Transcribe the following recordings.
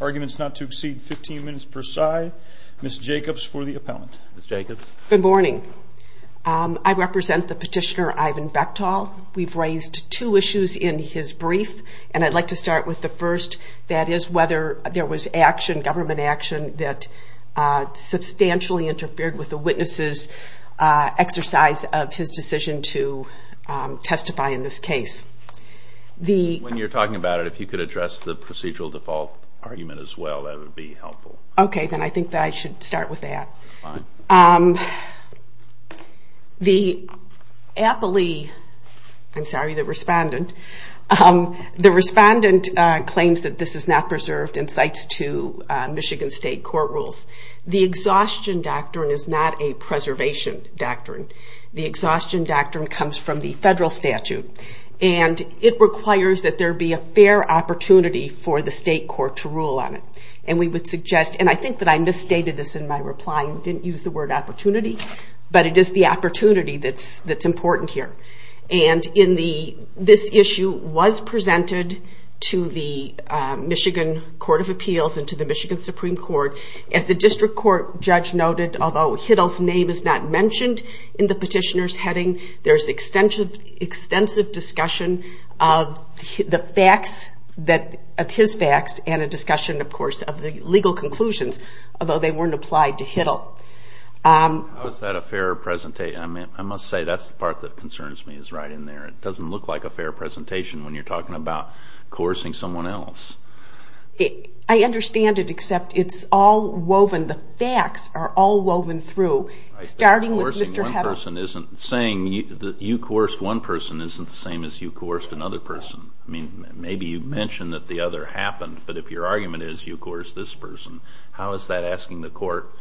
arguments not to exceed 15 minutes per side. Ms. Jacobs for the appellant. Good morning. I represent the petitioner Ivan Bechtol. We've raised two issues in his brief and I'd like to start with the first. That is whether there was government action that substantially interfered with the witnesses' exercise of his decision to testify in this case. When you're talking about it, if you could address the procedural default argument as well, that would be helpful. Okay, then I think that I should start with that. The appellee, I'm sorry, the respondent, the respondent claims that this is not preserved and cites two Michigan State court rules. The exhaustion doctrine is not a preservation doctrine. The exhaustion doctrine comes from the federal statute. It requires that there be a fair opportunity for the state court to rule on it. I think that I misstated this in my reply. I didn't use the word opportunity, but it is the opportunity that's important here. This issue was presented to the Michigan Court of Appeals and to the Michigan Supreme Court. As the district court judge noted, although Hiddle's name is not mentioned in the petitioner's heading, there's extensive discussion of his facts and a discussion, of course, of the legal conclusions, although they weren't applied to Hiddle. How is that a fair presentation? I must say, that's the part that concerns me, is right in there. It doesn't look like a fair presentation when you're talking about coercing someone else. I understand it, except it's all woven. The facts are all woven through, starting with Mr. Hiddle. Coercing one person isn't saying that you coerced one person isn't the same as you coerced another person. I mean, maybe you mentioned that the other happened, but if your argument is you coerced this person, how is that asking the court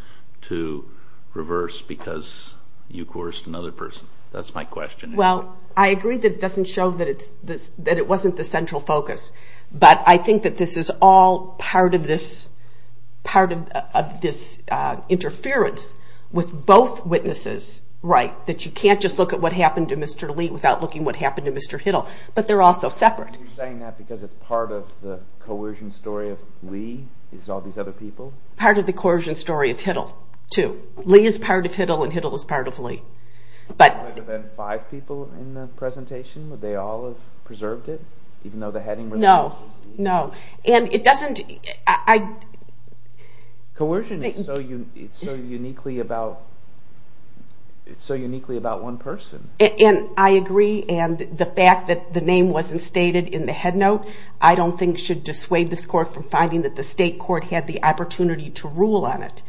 to reverse because you coerced another person? That's my question. Well, I agree that it doesn't show that it wasn't the central focus, but I think that this is all part of this interference with both witnesses, that you can't just look at what happened to Mr. Lee without looking at what happened to Mr. Hiddle, but they're also separate. Are you saying that because it's part of the coercion story of Lee, is all these other people? Part of the coercion story of Hiddle, too. Lee is part of Hiddle, and Hiddle is part of Lee. Would there have been five people in the presentation? Would they all have preserved it? No, no. And it doesn't... Coercion is so uniquely about one person. And I agree, and the fact that the name wasn't stated in the headnote, I don't think should dissuade this court from finding that the state court had the opportunity to rule on it.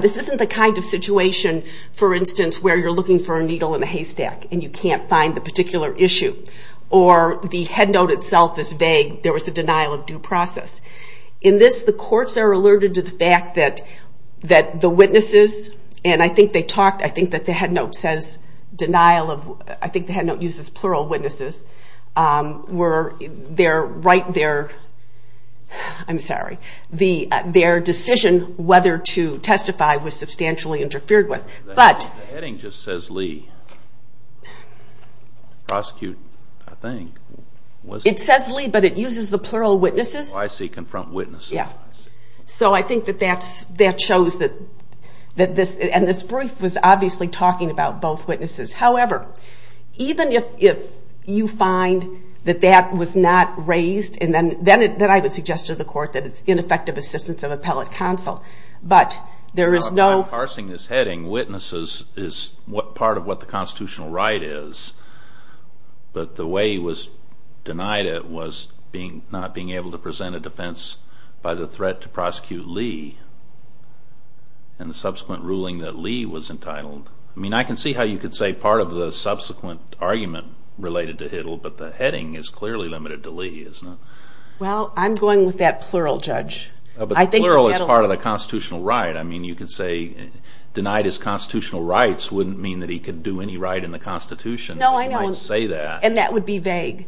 This isn't the kind of situation, for instance, where you're looking for a needle in a haystack and you can't find the particular issue, or the headnote itself is vague. There was a denial of due process. In this, the courts are alerted to the fact that the witnesses, and I think they talked, I think that the headnote says denial of... I think the headnote uses plural witnesses. Their decision whether to testify was substantially interfered with. The heading just says Lee. It says Lee, but it uses the plural witnesses. Oh, I see, confront witnesses. So I think that shows that, and this brief was obviously talking about both witnesses. However, even if you find that that was not raised, then I would suggest to the court that it's ineffective assistance of appellate counsel. By parsing this heading, witnesses is part of what the constitutional right is, but the way it was denied it was not being able to present a defense by the threat to prosecute Lee, and the subsequent ruling that Lee was entitled. I can see how you could say part of the subsequent argument related to Hitler, but the heading is clearly limited to Lee, isn't it? Well, I'm going with that plural judge. But plural is part of the constitutional right. I mean, you could say denied his constitutional rights wouldn't mean that he could do any right in the Constitution. No, I know, and that would be vague.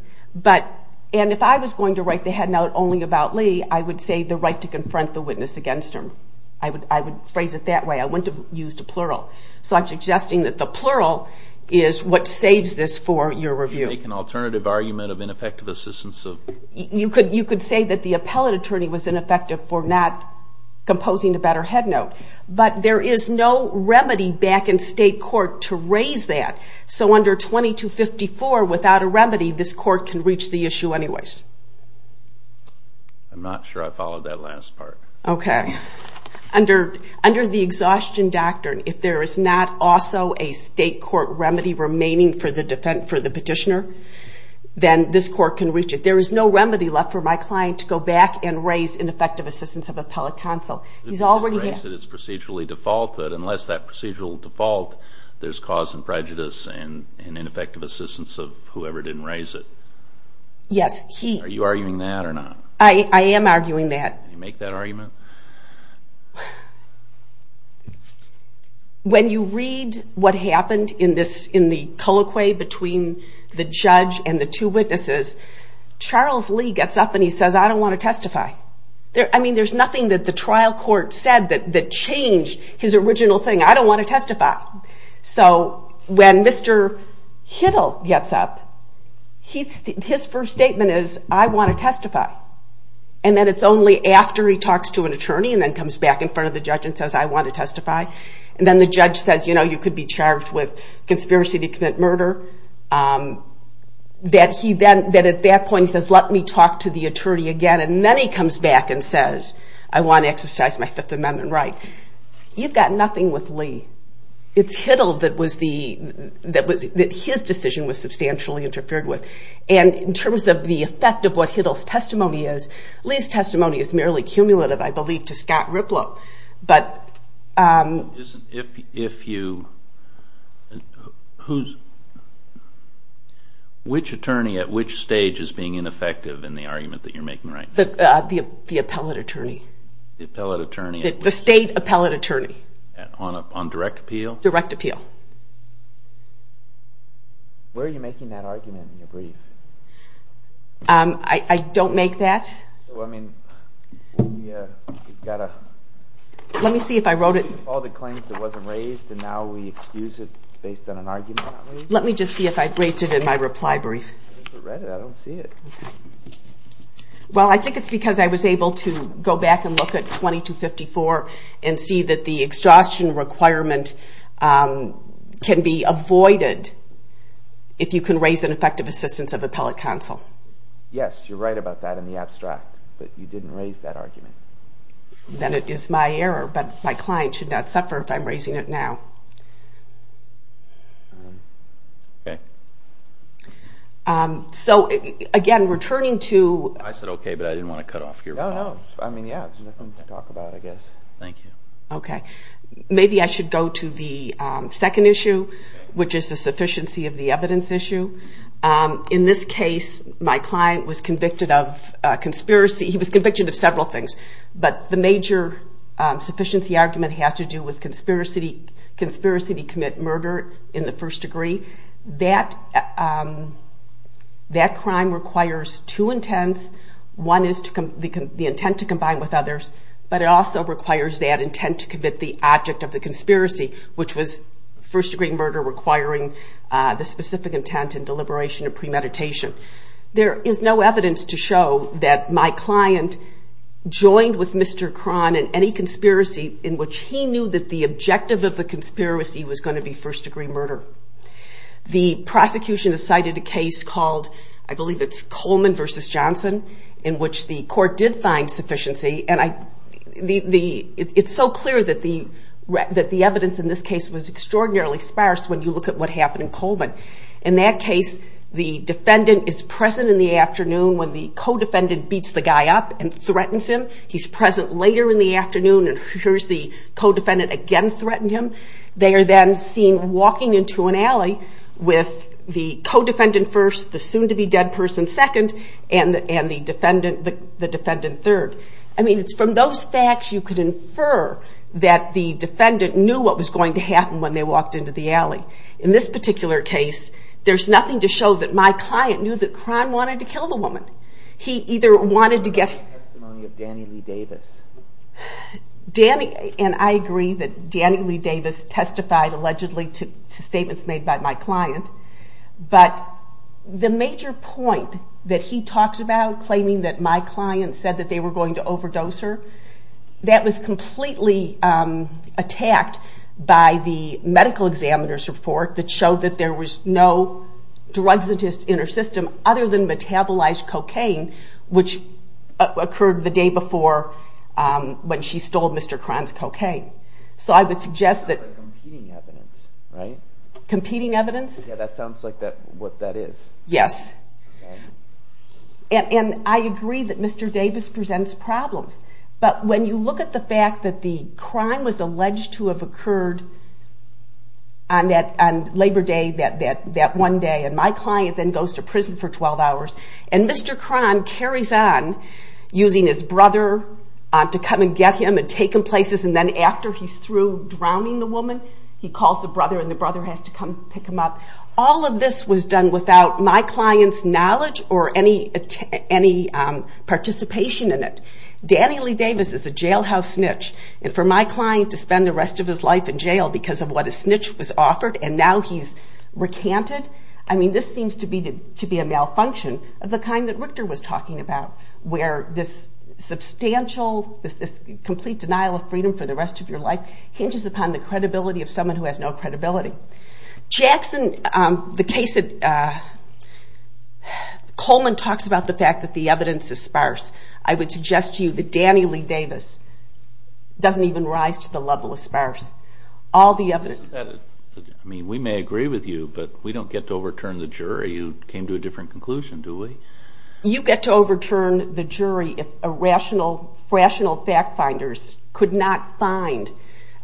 And if I was going to write the headnote only about Lee, I would say the right to confront the witness against him. I would phrase it that way. I wouldn't have used a plural. So I'm suggesting that the plural is what saves this for your review. You could say that the appellate attorney was ineffective for not composing a better headnote. But there is no remedy back in state court to raise that. So under 2254, without a remedy, this court can reach the issue anyways. I'm not sure I followed that last part. Under the exhaustion doctrine, if there is not also a state court remedy remaining for the petitioner, then this court can reach it. There is no remedy left for my client to go back and raise ineffective assistance of appellate counsel. Unless that procedural default, there's cause and prejudice and ineffective assistance of whoever didn't raise it. Are you arguing that or not? I am arguing that. When you read what happened in the colloquy between the judge and the two witnesses, Charles Lee gets up and he says, I don't want to testify. There's nothing that the trial court said that changed his original thing. I don't want to testify. So when Mr. Hiddle gets up, his first statement is, I want to testify. And then it's only after he talks to an attorney and then comes back in front of the judge and says, I want to testify. And then the judge says, you know, you could be charged with conspiracy to commit murder. That at that point he says, let me talk to the attorney again. And then he comes back and says, I want to exercise my Fifth Amendment right. You've got nothing with Lee. It's Hiddle that his decision was substantially interfered with. And in terms of the effect of what Hiddle's testimony is, Lee's testimony is merely cumulative, I believe, to Scott Riplow. Which attorney at which stage is being ineffective in the argument that you're making right now? The appellate attorney. The state appellate attorney. On direct appeal? Direct appeal. I don't make that. Let me see if I wrote it. Let me just see if I raised it in my reply brief. Well, I think it's because I was able to go back and look at 2254 and see that the exhaustion requirement can be avoided if you can raise an effective assistance of appellate counsel. Yes, you're right about that in the abstract. But you didn't raise that argument. Then it is my error. But my client should not suffer if I'm raising it now. Okay. So again, returning to. I said okay, but I didn't want to cut off your reply. Maybe I should go to the second issue, which is the sufficiency of the evidence issue. In this case, my client was convicted of conspiracy. He was convicted of several things. But the major sufficiency argument has to do with conspiracy to commit murder in the first degree. That crime requires two intents. One is the intent to combine with others. But it also requires that intent to commit the object of the conspiracy, which was first degree murder requiring the specific intent and deliberation of premeditation. There is no evidence to show that my client joined with Mr. Cron in any conspiracy in which he knew that the objective of the conspiracy was going to be first degree murder. The prosecution has cited a case called, I believe it's Coleman v. Johnson, in which the court did find sufficiency. It's so clear that the evidence in this case was extraordinarily sparse when you look at what happened in Coleman. In that case, the defendant is present in the afternoon when the co-defendant beats the guy up and threatens him. He's present later in the afternoon and hears the co-defendant again threaten him. They are then seen walking into an alley with the co-defendant first, the soon to be dead person second, and the defendant third. From those facts you could infer that the defendant knew what was going to happen when they walked into the alley. In this particular case, there's nothing to show that my client knew that Cron wanted to kill the woman. He either wanted to get... I agree that Danny Lee Davis testified allegedly to statements made by my client. The major point that he talked about, claiming that my client said they were going to overdose her, that was completely attacked by the medical examiner's report that showed that there was no drugs in her system other than metabolized cocaine which occurred the day before when she stole Mr. Cron's cocaine. So I would suggest that... I agree that Mr. Davis presents problems, but when you look at the fact that the crime was alleged to have occurred on Labor Day that one day and my client then goes to prison for 12 hours and Mr. Cron carries on using his brother to come and get him and take him places and then after he's through drowning the woman he calls the brother and the brother has to come pick him up. All of this was done without my client's knowledge or any participation in it. Danny Lee Davis is a jailhouse snitch and for my client to spend the rest of his life in jail because of what a snitch was offered and now he's recanted. I mean this seems to be a malfunction of the kind that Richter was talking about where this substantial, this complete denial of freedom for the rest of your life hinges upon the credibility of someone who has no credibility. Coleman talks about the fact that the evidence is sparse. I would suggest to you that Danny Lee Davis doesn't even rise to the level of sparse. I mean we may agree with you but we don't get to overturn the jury. You came to a different conclusion, do we? You get to overturn the jury if rational fact finders could not find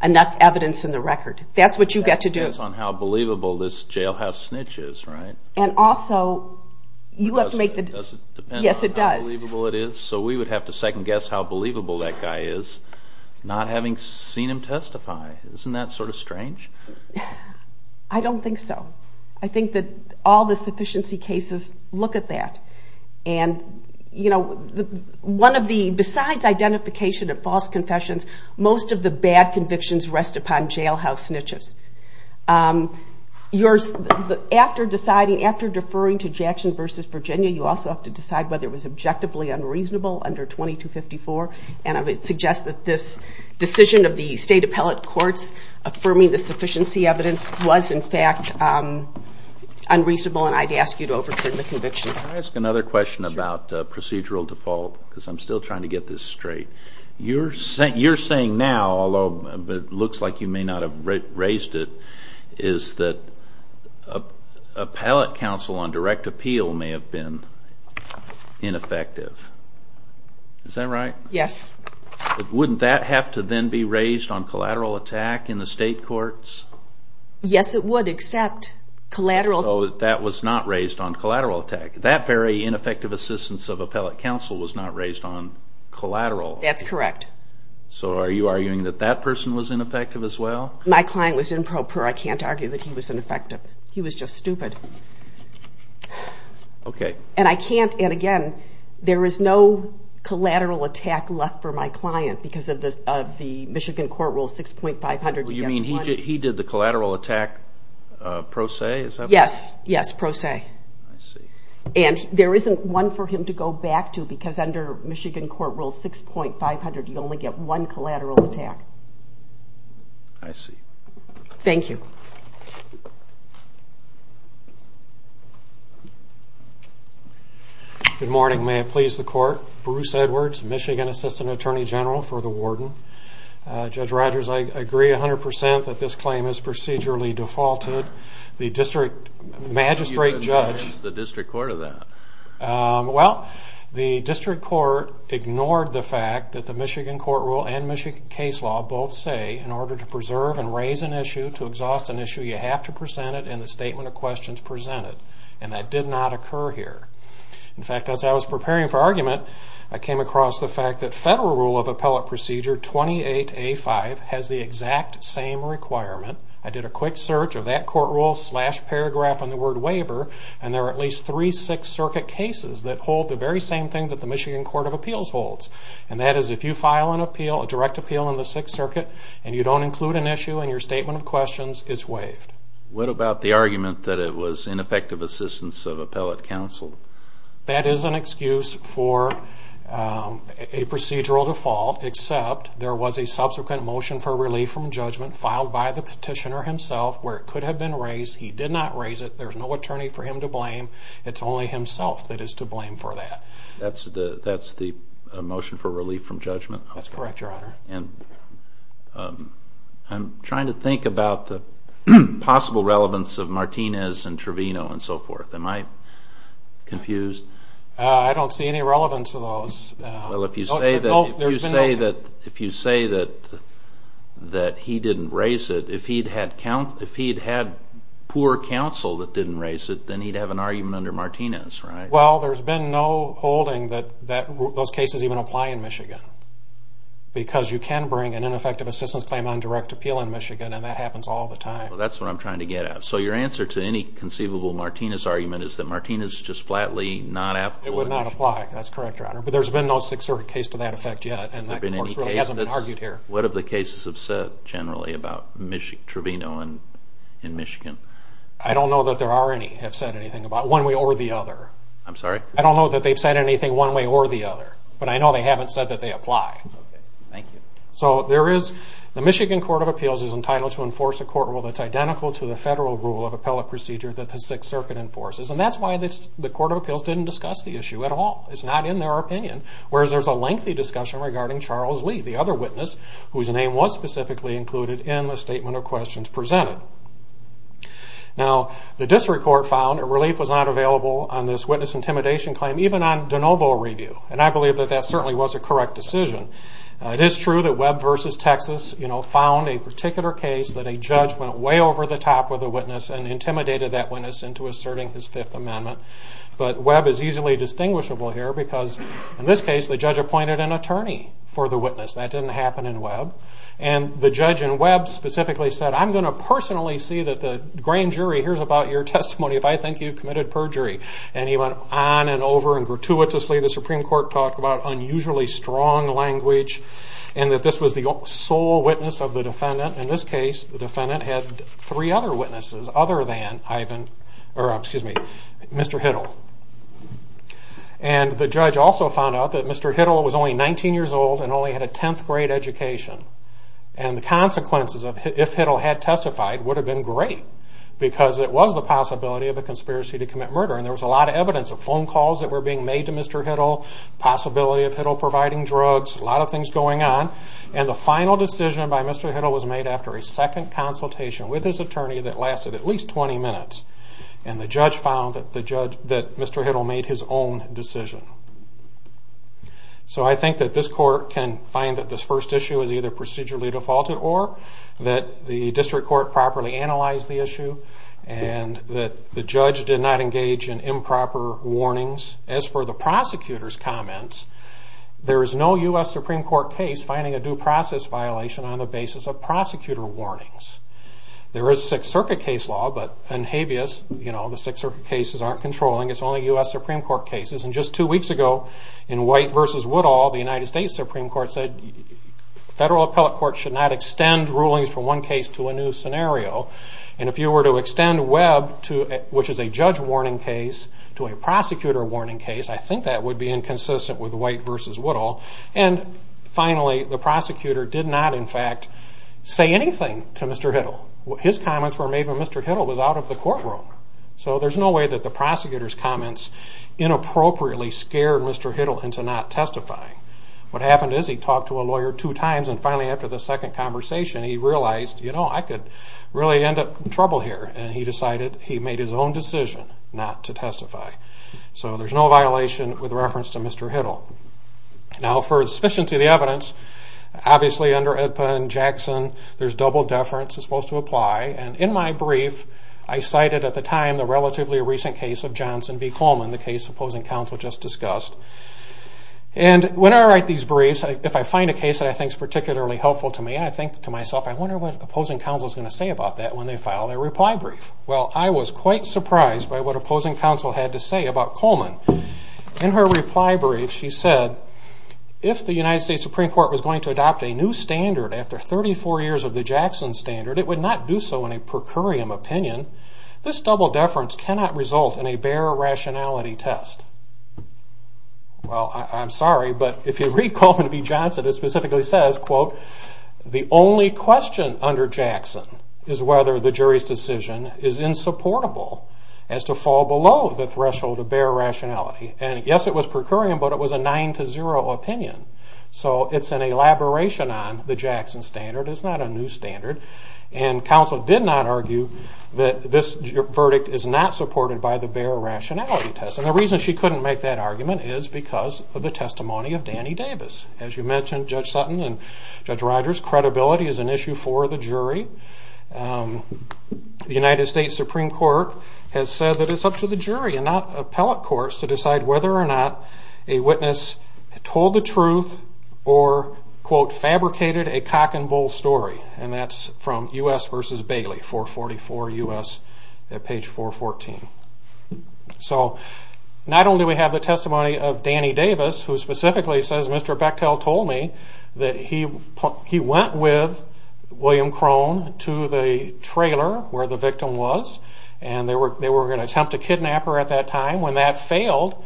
enough evidence in the record. That's what you get to do. That depends on how believable this jailhouse snitch is, right? Yes, it does. So we would have to second guess how believable that guy is not having seen him testify. Isn't that sort of strange? I don't think so. I think that all the sufficiency cases look at that. And besides identification of false confessions, most of the bad convictions rest upon jailhouse snitches. After deferring to Jackson v. Virginia you also have to decide whether it was objectively unreasonable under 2254 and I would suggest that this decision of the state appellate courts affirming the sufficiency evidence was in fact unreasonable and I'd ask you to overturn the convictions. Can I ask another question about procedural default because I'm still trying to get this straight? You're saying now, although it looks like you may not have raised it, is that appellate counsel on direct appeal may have been ineffective. Is that right? Yes. Wouldn't that have to then be raised on collateral attack in the state courts? Yes, it would except collateral. So that was not raised on collateral attack. That very ineffective assistance of appellate counsel was not raised on collateral. That's correct. So are you arguing that that person was ineffective as well? My client was improper. I can't argue that he was ineffective. He was just stupid. And again, there is no collateral attack left for my client because of the Michigan court rule 6.500. You mean he did the collateral attack pro se? Yes, pro se. And there isn't one for him to go back to because under Michigan court rule 6.500 you only get one collateral attack. I see. Thank you. Good morning, may it please the court. Bruce Edwards, Michigan Assistant Attorney General for the Warden. Judge Rogers, I agree 100% that this claim is procedurally defaulted. The district magistrate judge... Well, the district court ignored the fact that the Michigan court rule and Michigan case law both say in order to preserve and raise an issue, to exhaust an issue, you have to present it in the statement of questions presented. And that did not occur here. In fact, as I was preparing for argument, I came across the fact that Federal Rule of Appellate Procedure 28A5 has the exact same requirement. I did a quick search of that court rule slash paragraph on the word waiver and there are at least three Sixth Circuit cases that hold the very same thing that the Michigan Court of Appeals holds. And that is if you file a direct appeal in the Sixth Circuit and you don't include an issue in your statement of questions, it's waived. What about the argument that it was ineffective assistance of appellate counsel? That is an excuse for a procedural default except there was a subsequent motion for relief from judgment filed by the petitioner himself where it could have been raised. He did not raise it. There's no attorney for him to blame. It's only himself that is to blame for that. That's the motion for relief from judgment? That's correct, Your Honor. I'm trying to think about the possible relevance of Martinez and Trevino and so forth. Am I confused? I don't see any relevance to those. If you say that he didn't raise it, if he'd had poor counsel that didn't raise it, then he'd have an argument under Martinez, right? Well, there's been no holding that those cases even apply in Michigan because you can bring an ineffective assistance claim on direct appeal in Michigan and that happens all the time. That's what I'm trying to get at. So your answer to any conceivable Martinez argument is that Martinez just flatly not applicable? It would not apply. That's correct, Your Honor. But there's been no Sixth Circuit case to that effect yet. What have the cases said generally about Trevino and Michigan? I don't know that there are any that have said anything about one way or the other. I'm sorry? I don't know that they've said anything one way or the other, but I know they haven't said that they apply. The Michigan Court of Appeals is entitled to enforce a court rule that's identical to the federal rule of appellate procedure that the Sixth Circuit enforces. And that's why the Court of Appeals didn't discuss the issue at all. It's not in their opinion, whereas there's a lengthy discussion regarding Charles Lee, the other witness, whose name was specifically included in the statement of questions presented. Now, the District Court found relief was not available on this witness intimidation claim, even on de novo review. And I believe that that certainly was a correct decision. It is true that Webb v. Texas found a particular case that a judge went way over the top with a witness and intimidated that witness into asserting his Fifth Amendment. But Webb is easily distinguishable here because, in this case, the judge appointed an attorney for the witness. That didn't happen in Webb. And the judge in Webb specifically said, I'm going to personally see that the grand jury hears about your testimony if I think you've committed perjury. And he went on and over and gratuitously, the Supreme Court talked about unusually strong language and that this was the sole witness of the defendant. In this case, the defendant had three other witnesses other than Mr. Hiddle. And the judge also found out that Mr. Hiddle was only 19 years old and only had a 10th grade education. And the consequences of if Hiddle had testified would have been great because it was the possibility of a conspiracy to commit murder. And there was a lot of evidence of phone calls that were being made to Mr. Hiddle, possibility of Hiddle providing drugs, a lot of things going on. And the final decision by Mr. Hiddle was made after a second consultation with his attorney that lasted at least 20 minutes. And the judge found that Mr. Hiddle made his own decision. So I think that this court can find that this first issue is either procedurally defaulted or that the district court properly analyzed the issue and that the judge did not engage in improper warnings. As for the prosecutor's comments, there is no U.S. Supreme Court case finding a due process violation on the basis of prosecutor warnings. There is Sixth Circuit case law, but in habeas, the Sixth Circuit cases aren't controlling. It's only U.S. Supreme Court cases. And just two weeks ago, in White v. Woodall, the U.S. Supreme Court said federal appellate courts should not extend rulings from one case to a new scenario. And if you were to extend Webb, which is a judge warning case, to a prosecutor warning case, I think that would be inconsistent with White v. Woodall. And finally, the prosecutor did not, in fact, say anything to Mr. Hiddle. His comments were made when Mr. Hiddle was out of the courtroom. And he appropriately scared Mr. Hiddle into not testifying. What happened is he talked to a lawyer two times, and finally, after the second conversation, he realized, you know, I could really end up in trouble here. And he decided he made his own decision not to testify. So there's no violation with reference to Mr. Hiddle. Now, for the sufficiency of the evidence, obviously, under AEDPA and Jackson, there's double deference that's supposed to apply. And in my brief, I cited at the time the relatively recent case of Johnson v. Coleman, the case opposing counsel just discussed. And when I write these briefs, if I find a case that I think is particularly helpful to me, I think to myself, I wonder what opposing counsel is going to say about that when they file their reply brief. Well, I was quite surprised by what opposing counsel had to say about Coleman. In her reply brief, she said, if the United States Supreme Court was going to adopt a new standard after 34 years of the Jackson standard, it would not do so in a per curiam opinion. This double deference cannot result in a bare rationality test. Well, I'm sorry, but if you read Coleman v. Johnson, it specifically says, quote, the only question under Jackson is whether the jury's decision is insupportable as to fall below the threshold of bare rationality. And yes, it was per curiam, but it was a 9-0 opinion. So it's an elaboration on the Jackson standard. It's not a new standard. And counsel did not argue that this verdict is not supported by the bare rationality test. And the reason she couldn't make that argument is because of the testimony of Danny Davis. As you mentioned, Judge Sutton and Judge Rogers, credibility is an issue for the jury. The United States Supreme Court has said that it's up to the jury and not appellate courts to decide whether or not a witness told the truth or, quote, fabricated a cock and bull story. And that's from U.S. v. Bailey, 444 U.S., at page 414. So not only do we have the testimony of Danny Davis, who specifically says, Mr. Bechtel told me that he went with William Krohn to the trailer where the victim was and they were going to attempt to kidnap her at that time. When that failed,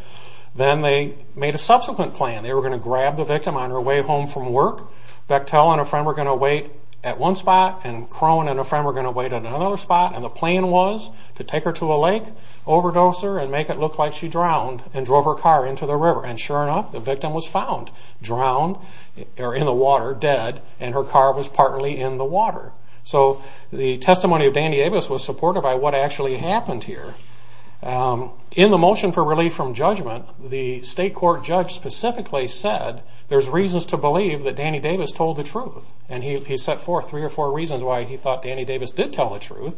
then they made a subsequent plan. They were going to grab the victim on her way home from work. Bechtel and a friend were going to wait at one spot and Krohn and a friend were going to wait at another spot. And the plan was to take her to a lake, overdose her and make it look like she drowned and drove her car into the river. And sure enough, the victim was found drowned or in the water, dead, and her car was partly in the water. So the testimony of Danny Davis was supported by what actually happened here. In the motion for relief from judgment, the state court judge specifically said there's reasons to believe that Danny Davis told the truth. And he set forth three or four reasons why he thought Danny Davis did tell the truth.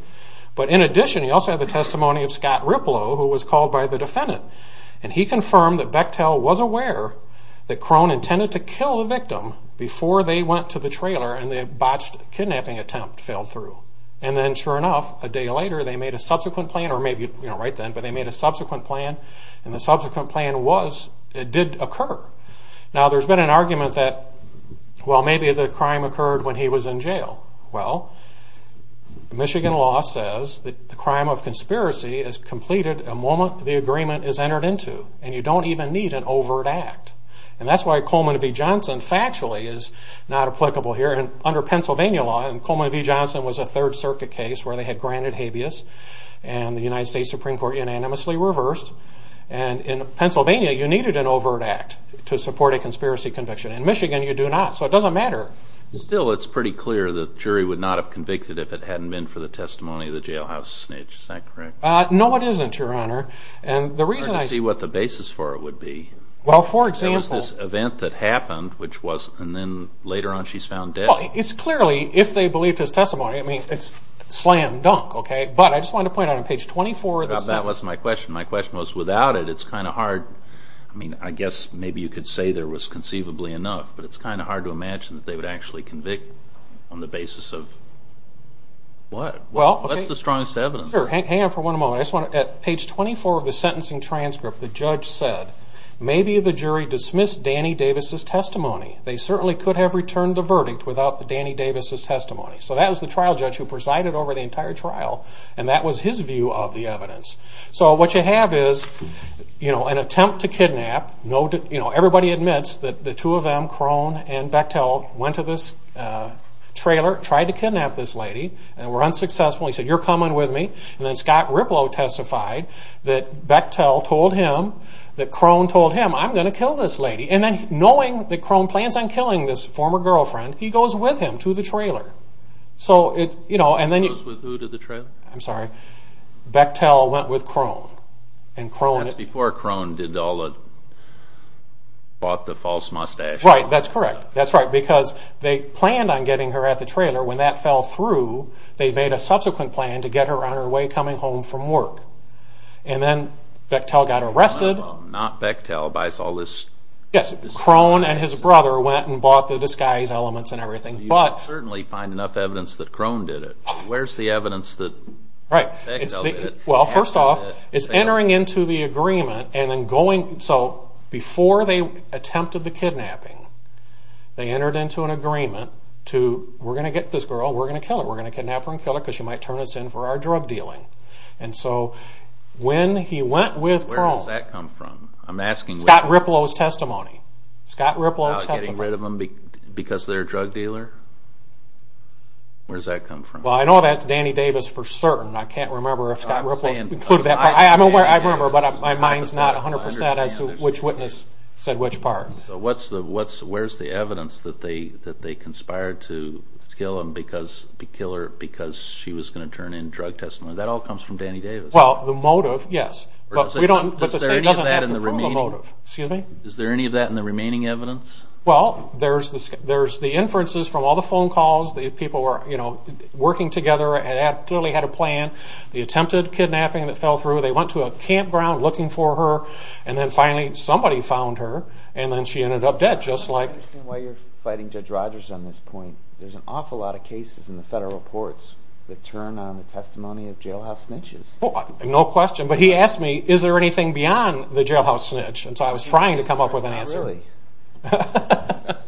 But in addition, he also had the testimony of Scott Riplow, who was called by the defendant. And he confirmed that Bechtel was aware that Krohn intended to kill the victim before they went to the trailer and the botched kidnapping attempt failed through. And then sure enough, a day later they made a subsequent plan. And the subsequent plan did occur. Now there's been an argument that maybe the crime occurred when he was in jail. Well, Michigan law says the crime of conspiracy is completed the moment the agreement is entered into. And you don't even need an overt act. And that's why Coleman v. Johnson factually is not applicable here. Under Pennsylvania law, Coleman v. Johnson was a Third Circuit case where they had granted habeas. And the United States Supreme Court unanimously reversed. And in Pennsylvania, you needed an overt act to support a conspiracy conviction. In Michigan, you do not. So it doesn't matter. Still, it's pretty clear that the jury would not have convicted if it hadn't been for the testimony of the jailhouse snitch. Is that correct? No, it isn't, Your Honor. It's hard to see what the basis for it would be. There was this event that happened, and then later on she's found dead. Well, it's clearly, if they believed his testimony, it's slam dunk. But I just wanted to point out on page 24... I guess maybe you could say there was conceivably enough, but it's kind of hard to imagine that they would actually convict on the basis of... What's the strongest evidence? Hang on for one moment. On page 24 of the sentencing transcript, the judge said, maybe the jury dismissed Danny Davis' testimony. They certainly could have returned the verdict without Danny Davis' testimony. So that was the trial judge who presided over the entire trial, and that was his view of the evidence. So what you have is an attempt to kidnap... And then the jury testified that Bechtel told him that Krohn told him, I'm going to kill this lady. And then knowing that Krohn plans on killing this former girlfriend, he goes with him to the trailer. Goes with who to the trailer? Bechtel went with Krohn. That's before Krohn bought the false mustache. Right, that's correct. Because they planned on getting her at the trailer. When that fell through, they made a subsequent plan to get her on her way coming home from work. And then Bechtel got arrested. Krohn and his brother went and bought the disguise elements and everything. You can certainly find enough evidence that Krohn did it. Where's the evidence that Bechtel did it? Well, first off, it's entering into the agreement. So before they attempted the kidnapping, they entered into an agreement to, we're going to get this girl, we're going to kill her, we're going to kidnap her and kill her because she might turn us in for our drug dealing. And so when he went with Krohn, Scott Riplow's testimony, Scott Riplow testified. About getting rid of them because they're a drug dealer? Where does that come from? Well, I know that's Danny Davis for certain. I can't remember if Scott Riplow included that part. I remember, but my mind's not 100% as to which witness said which part. So where's the evidence that they conspired to kill her because she was going to turn in drug testimony? That all comes from Danny Davis. Well, the motive, yes. Is there any of that in the remaining evidence? Well, there's the inferences from all the phone calls. The people were working together and clearly had a plan. The attempted kidnapping that fell through, they went to a campground looking for her and then finally somebody found her and then she ended up dead. Just like... I understand why you're fighting Judge Rogers on this point. There's an awful lot of cases in the federal reports that turn on the testimony of jailhouse snitches. No question, but he asked me, is there anything beyond the jailhouse snitch? I was trying to come up with an answer. The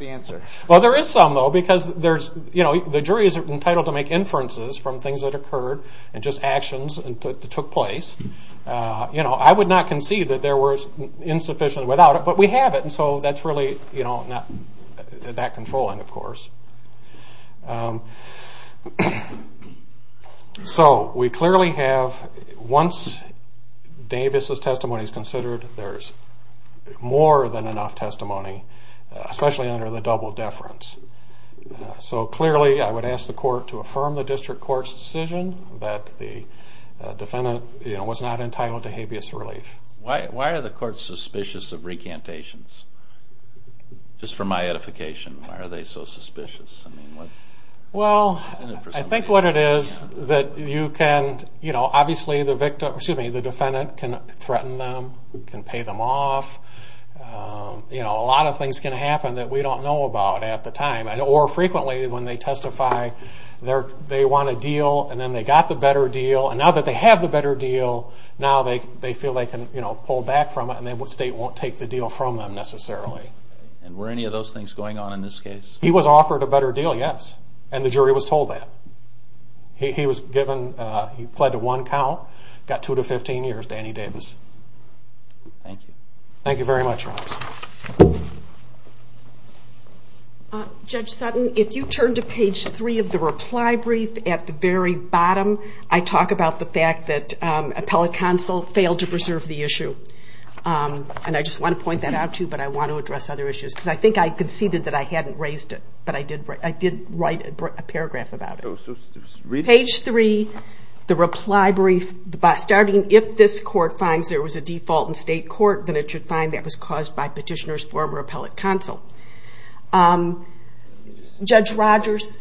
jury is entitled to make inferences from things that occurred and just actions that took place. I would not concede that there were insufficiencies without it, but we have it. So that's really not that controlling, of course. So we clearly have... Once Davis's testimony is considered, there's more than enough testimony, especially under the double deference. So clearly I would ask the court to affirm the district court's decision that the defendant was not entitled to habeas relief. Why are the courts suspicious of recantations? Just from my edification, why are they so suspicious? Well, I think what it is that you can... Obviously the defendant can threaten them, can pay them off. A lot of things can happen that we don't know about at the time, or frequently when they testify they want a deal and then they got the better deal necessarily. And were any of those things going on in this case? He was offered a better deal, yes. And the jury was told that. Judge Sutton, if you turn to page 3 of the reply brief at the very bottom, I talk about the fact that appellate counsel failed to preserve the issue. And I just want to point that out to you, but I want to address other issues. Because I think I conceded that I hadn't raised it, but I did write a paragraph about it. Page 3, the reply brief, starting, if this court finds there was a default in state court, then it should find that was caused by petitioner's former appellate counsel. Judge Rogers...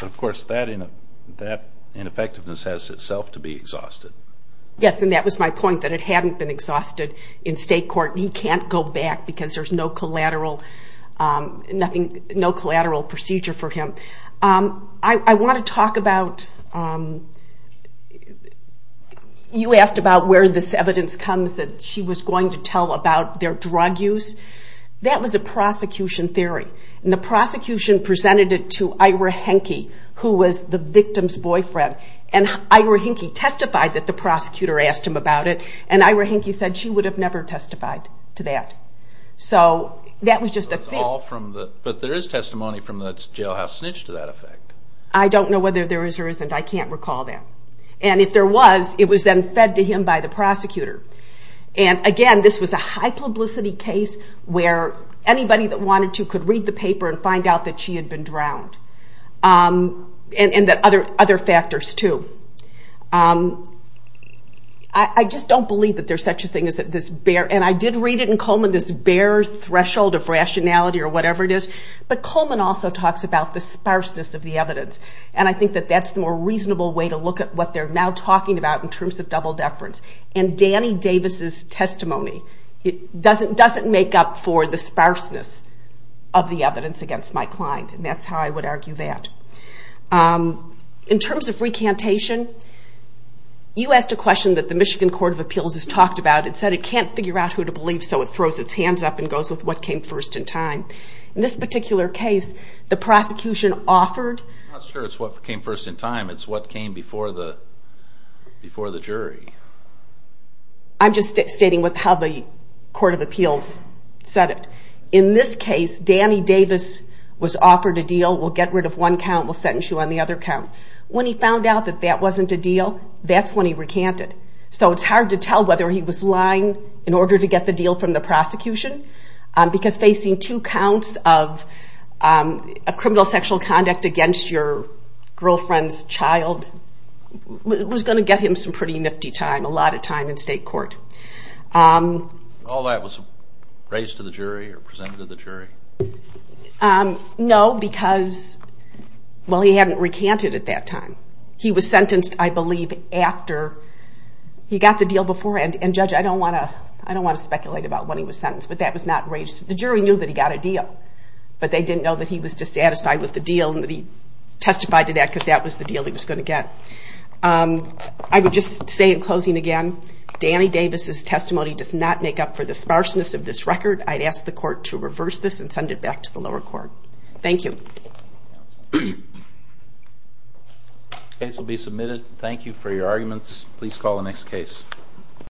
Of course, that ineffectiveness has itself to be exhausted. Yes, and that was my point, that it hadn't been exhausted in state court. He can't go back because there's no collateral procedure for him. I want to talk about... You asked about where this evidence comes that she was going to tell about their drug use. That was a prosecution theory. And the prosecution presented it to Ira Henke, who was the victim's boyfriend. And Ira Henke testified that the prosecutor asked him about it, and Ira Henke said she would have never testified to that. So that was just a theory. But there is testimony from the jailhouse snitch to that effect. I don't know whether there is or isn't. I can't recall that. And if there was, it was then fed to him by the prosecutor. And again, this was a high publicity case where anybody that wanted to could read the paper and find out that she had been drowned. And that other factors too. I just don't believe that there is such a thing as this bare... And I did read it in Coleman, this bare threshold of rationality or whatever it is. But Coleman also talks about the sparseness of the evidence. And I think that that's the more reasonable way to look at what they're now talking about in terms of double deference. And Danny Davis' testimony doesn't make up for the sparseness of the evidence against my client. And that's how I would argue that. In terms of recantation, you asked a question that the Michigan Court of Appeals has talked about. It said it can't figure out who to believe, so it throws its hands up and goes with what came first in time. In this particular case, the prosecution offered... I'm just stating how the Court of Appeals said it. In this case, Danny Davis was offered a deal, we'll get rid of one count, we'll sentence you on the other count. When he found out that that wasn't a deal, that's when he recanted. So it's hard to tell whether he was lying in order to get the deal from the prosecution. Because facing two counts of criminal sexual conduct against your girlfriend's child was going to get him some pretty nifty time. All that was raised to the jury or presented to the jury? No, because he hadn't recanted at that time. He was sentenced, I believe, after he got the deal before. And Judge, I don't want to speculate about when he was sentenced, but that was not raised. The jury knew that he got a deal, but they didn't know that he was dissatisfied with the deal and that he testified to that because that was the deal he was going to get. I would just say in closing again, Danny Davis' testimony does not make up for the sparseness of this record. I'd ask the Court to reverse this and send it back to the lower court. Thank you.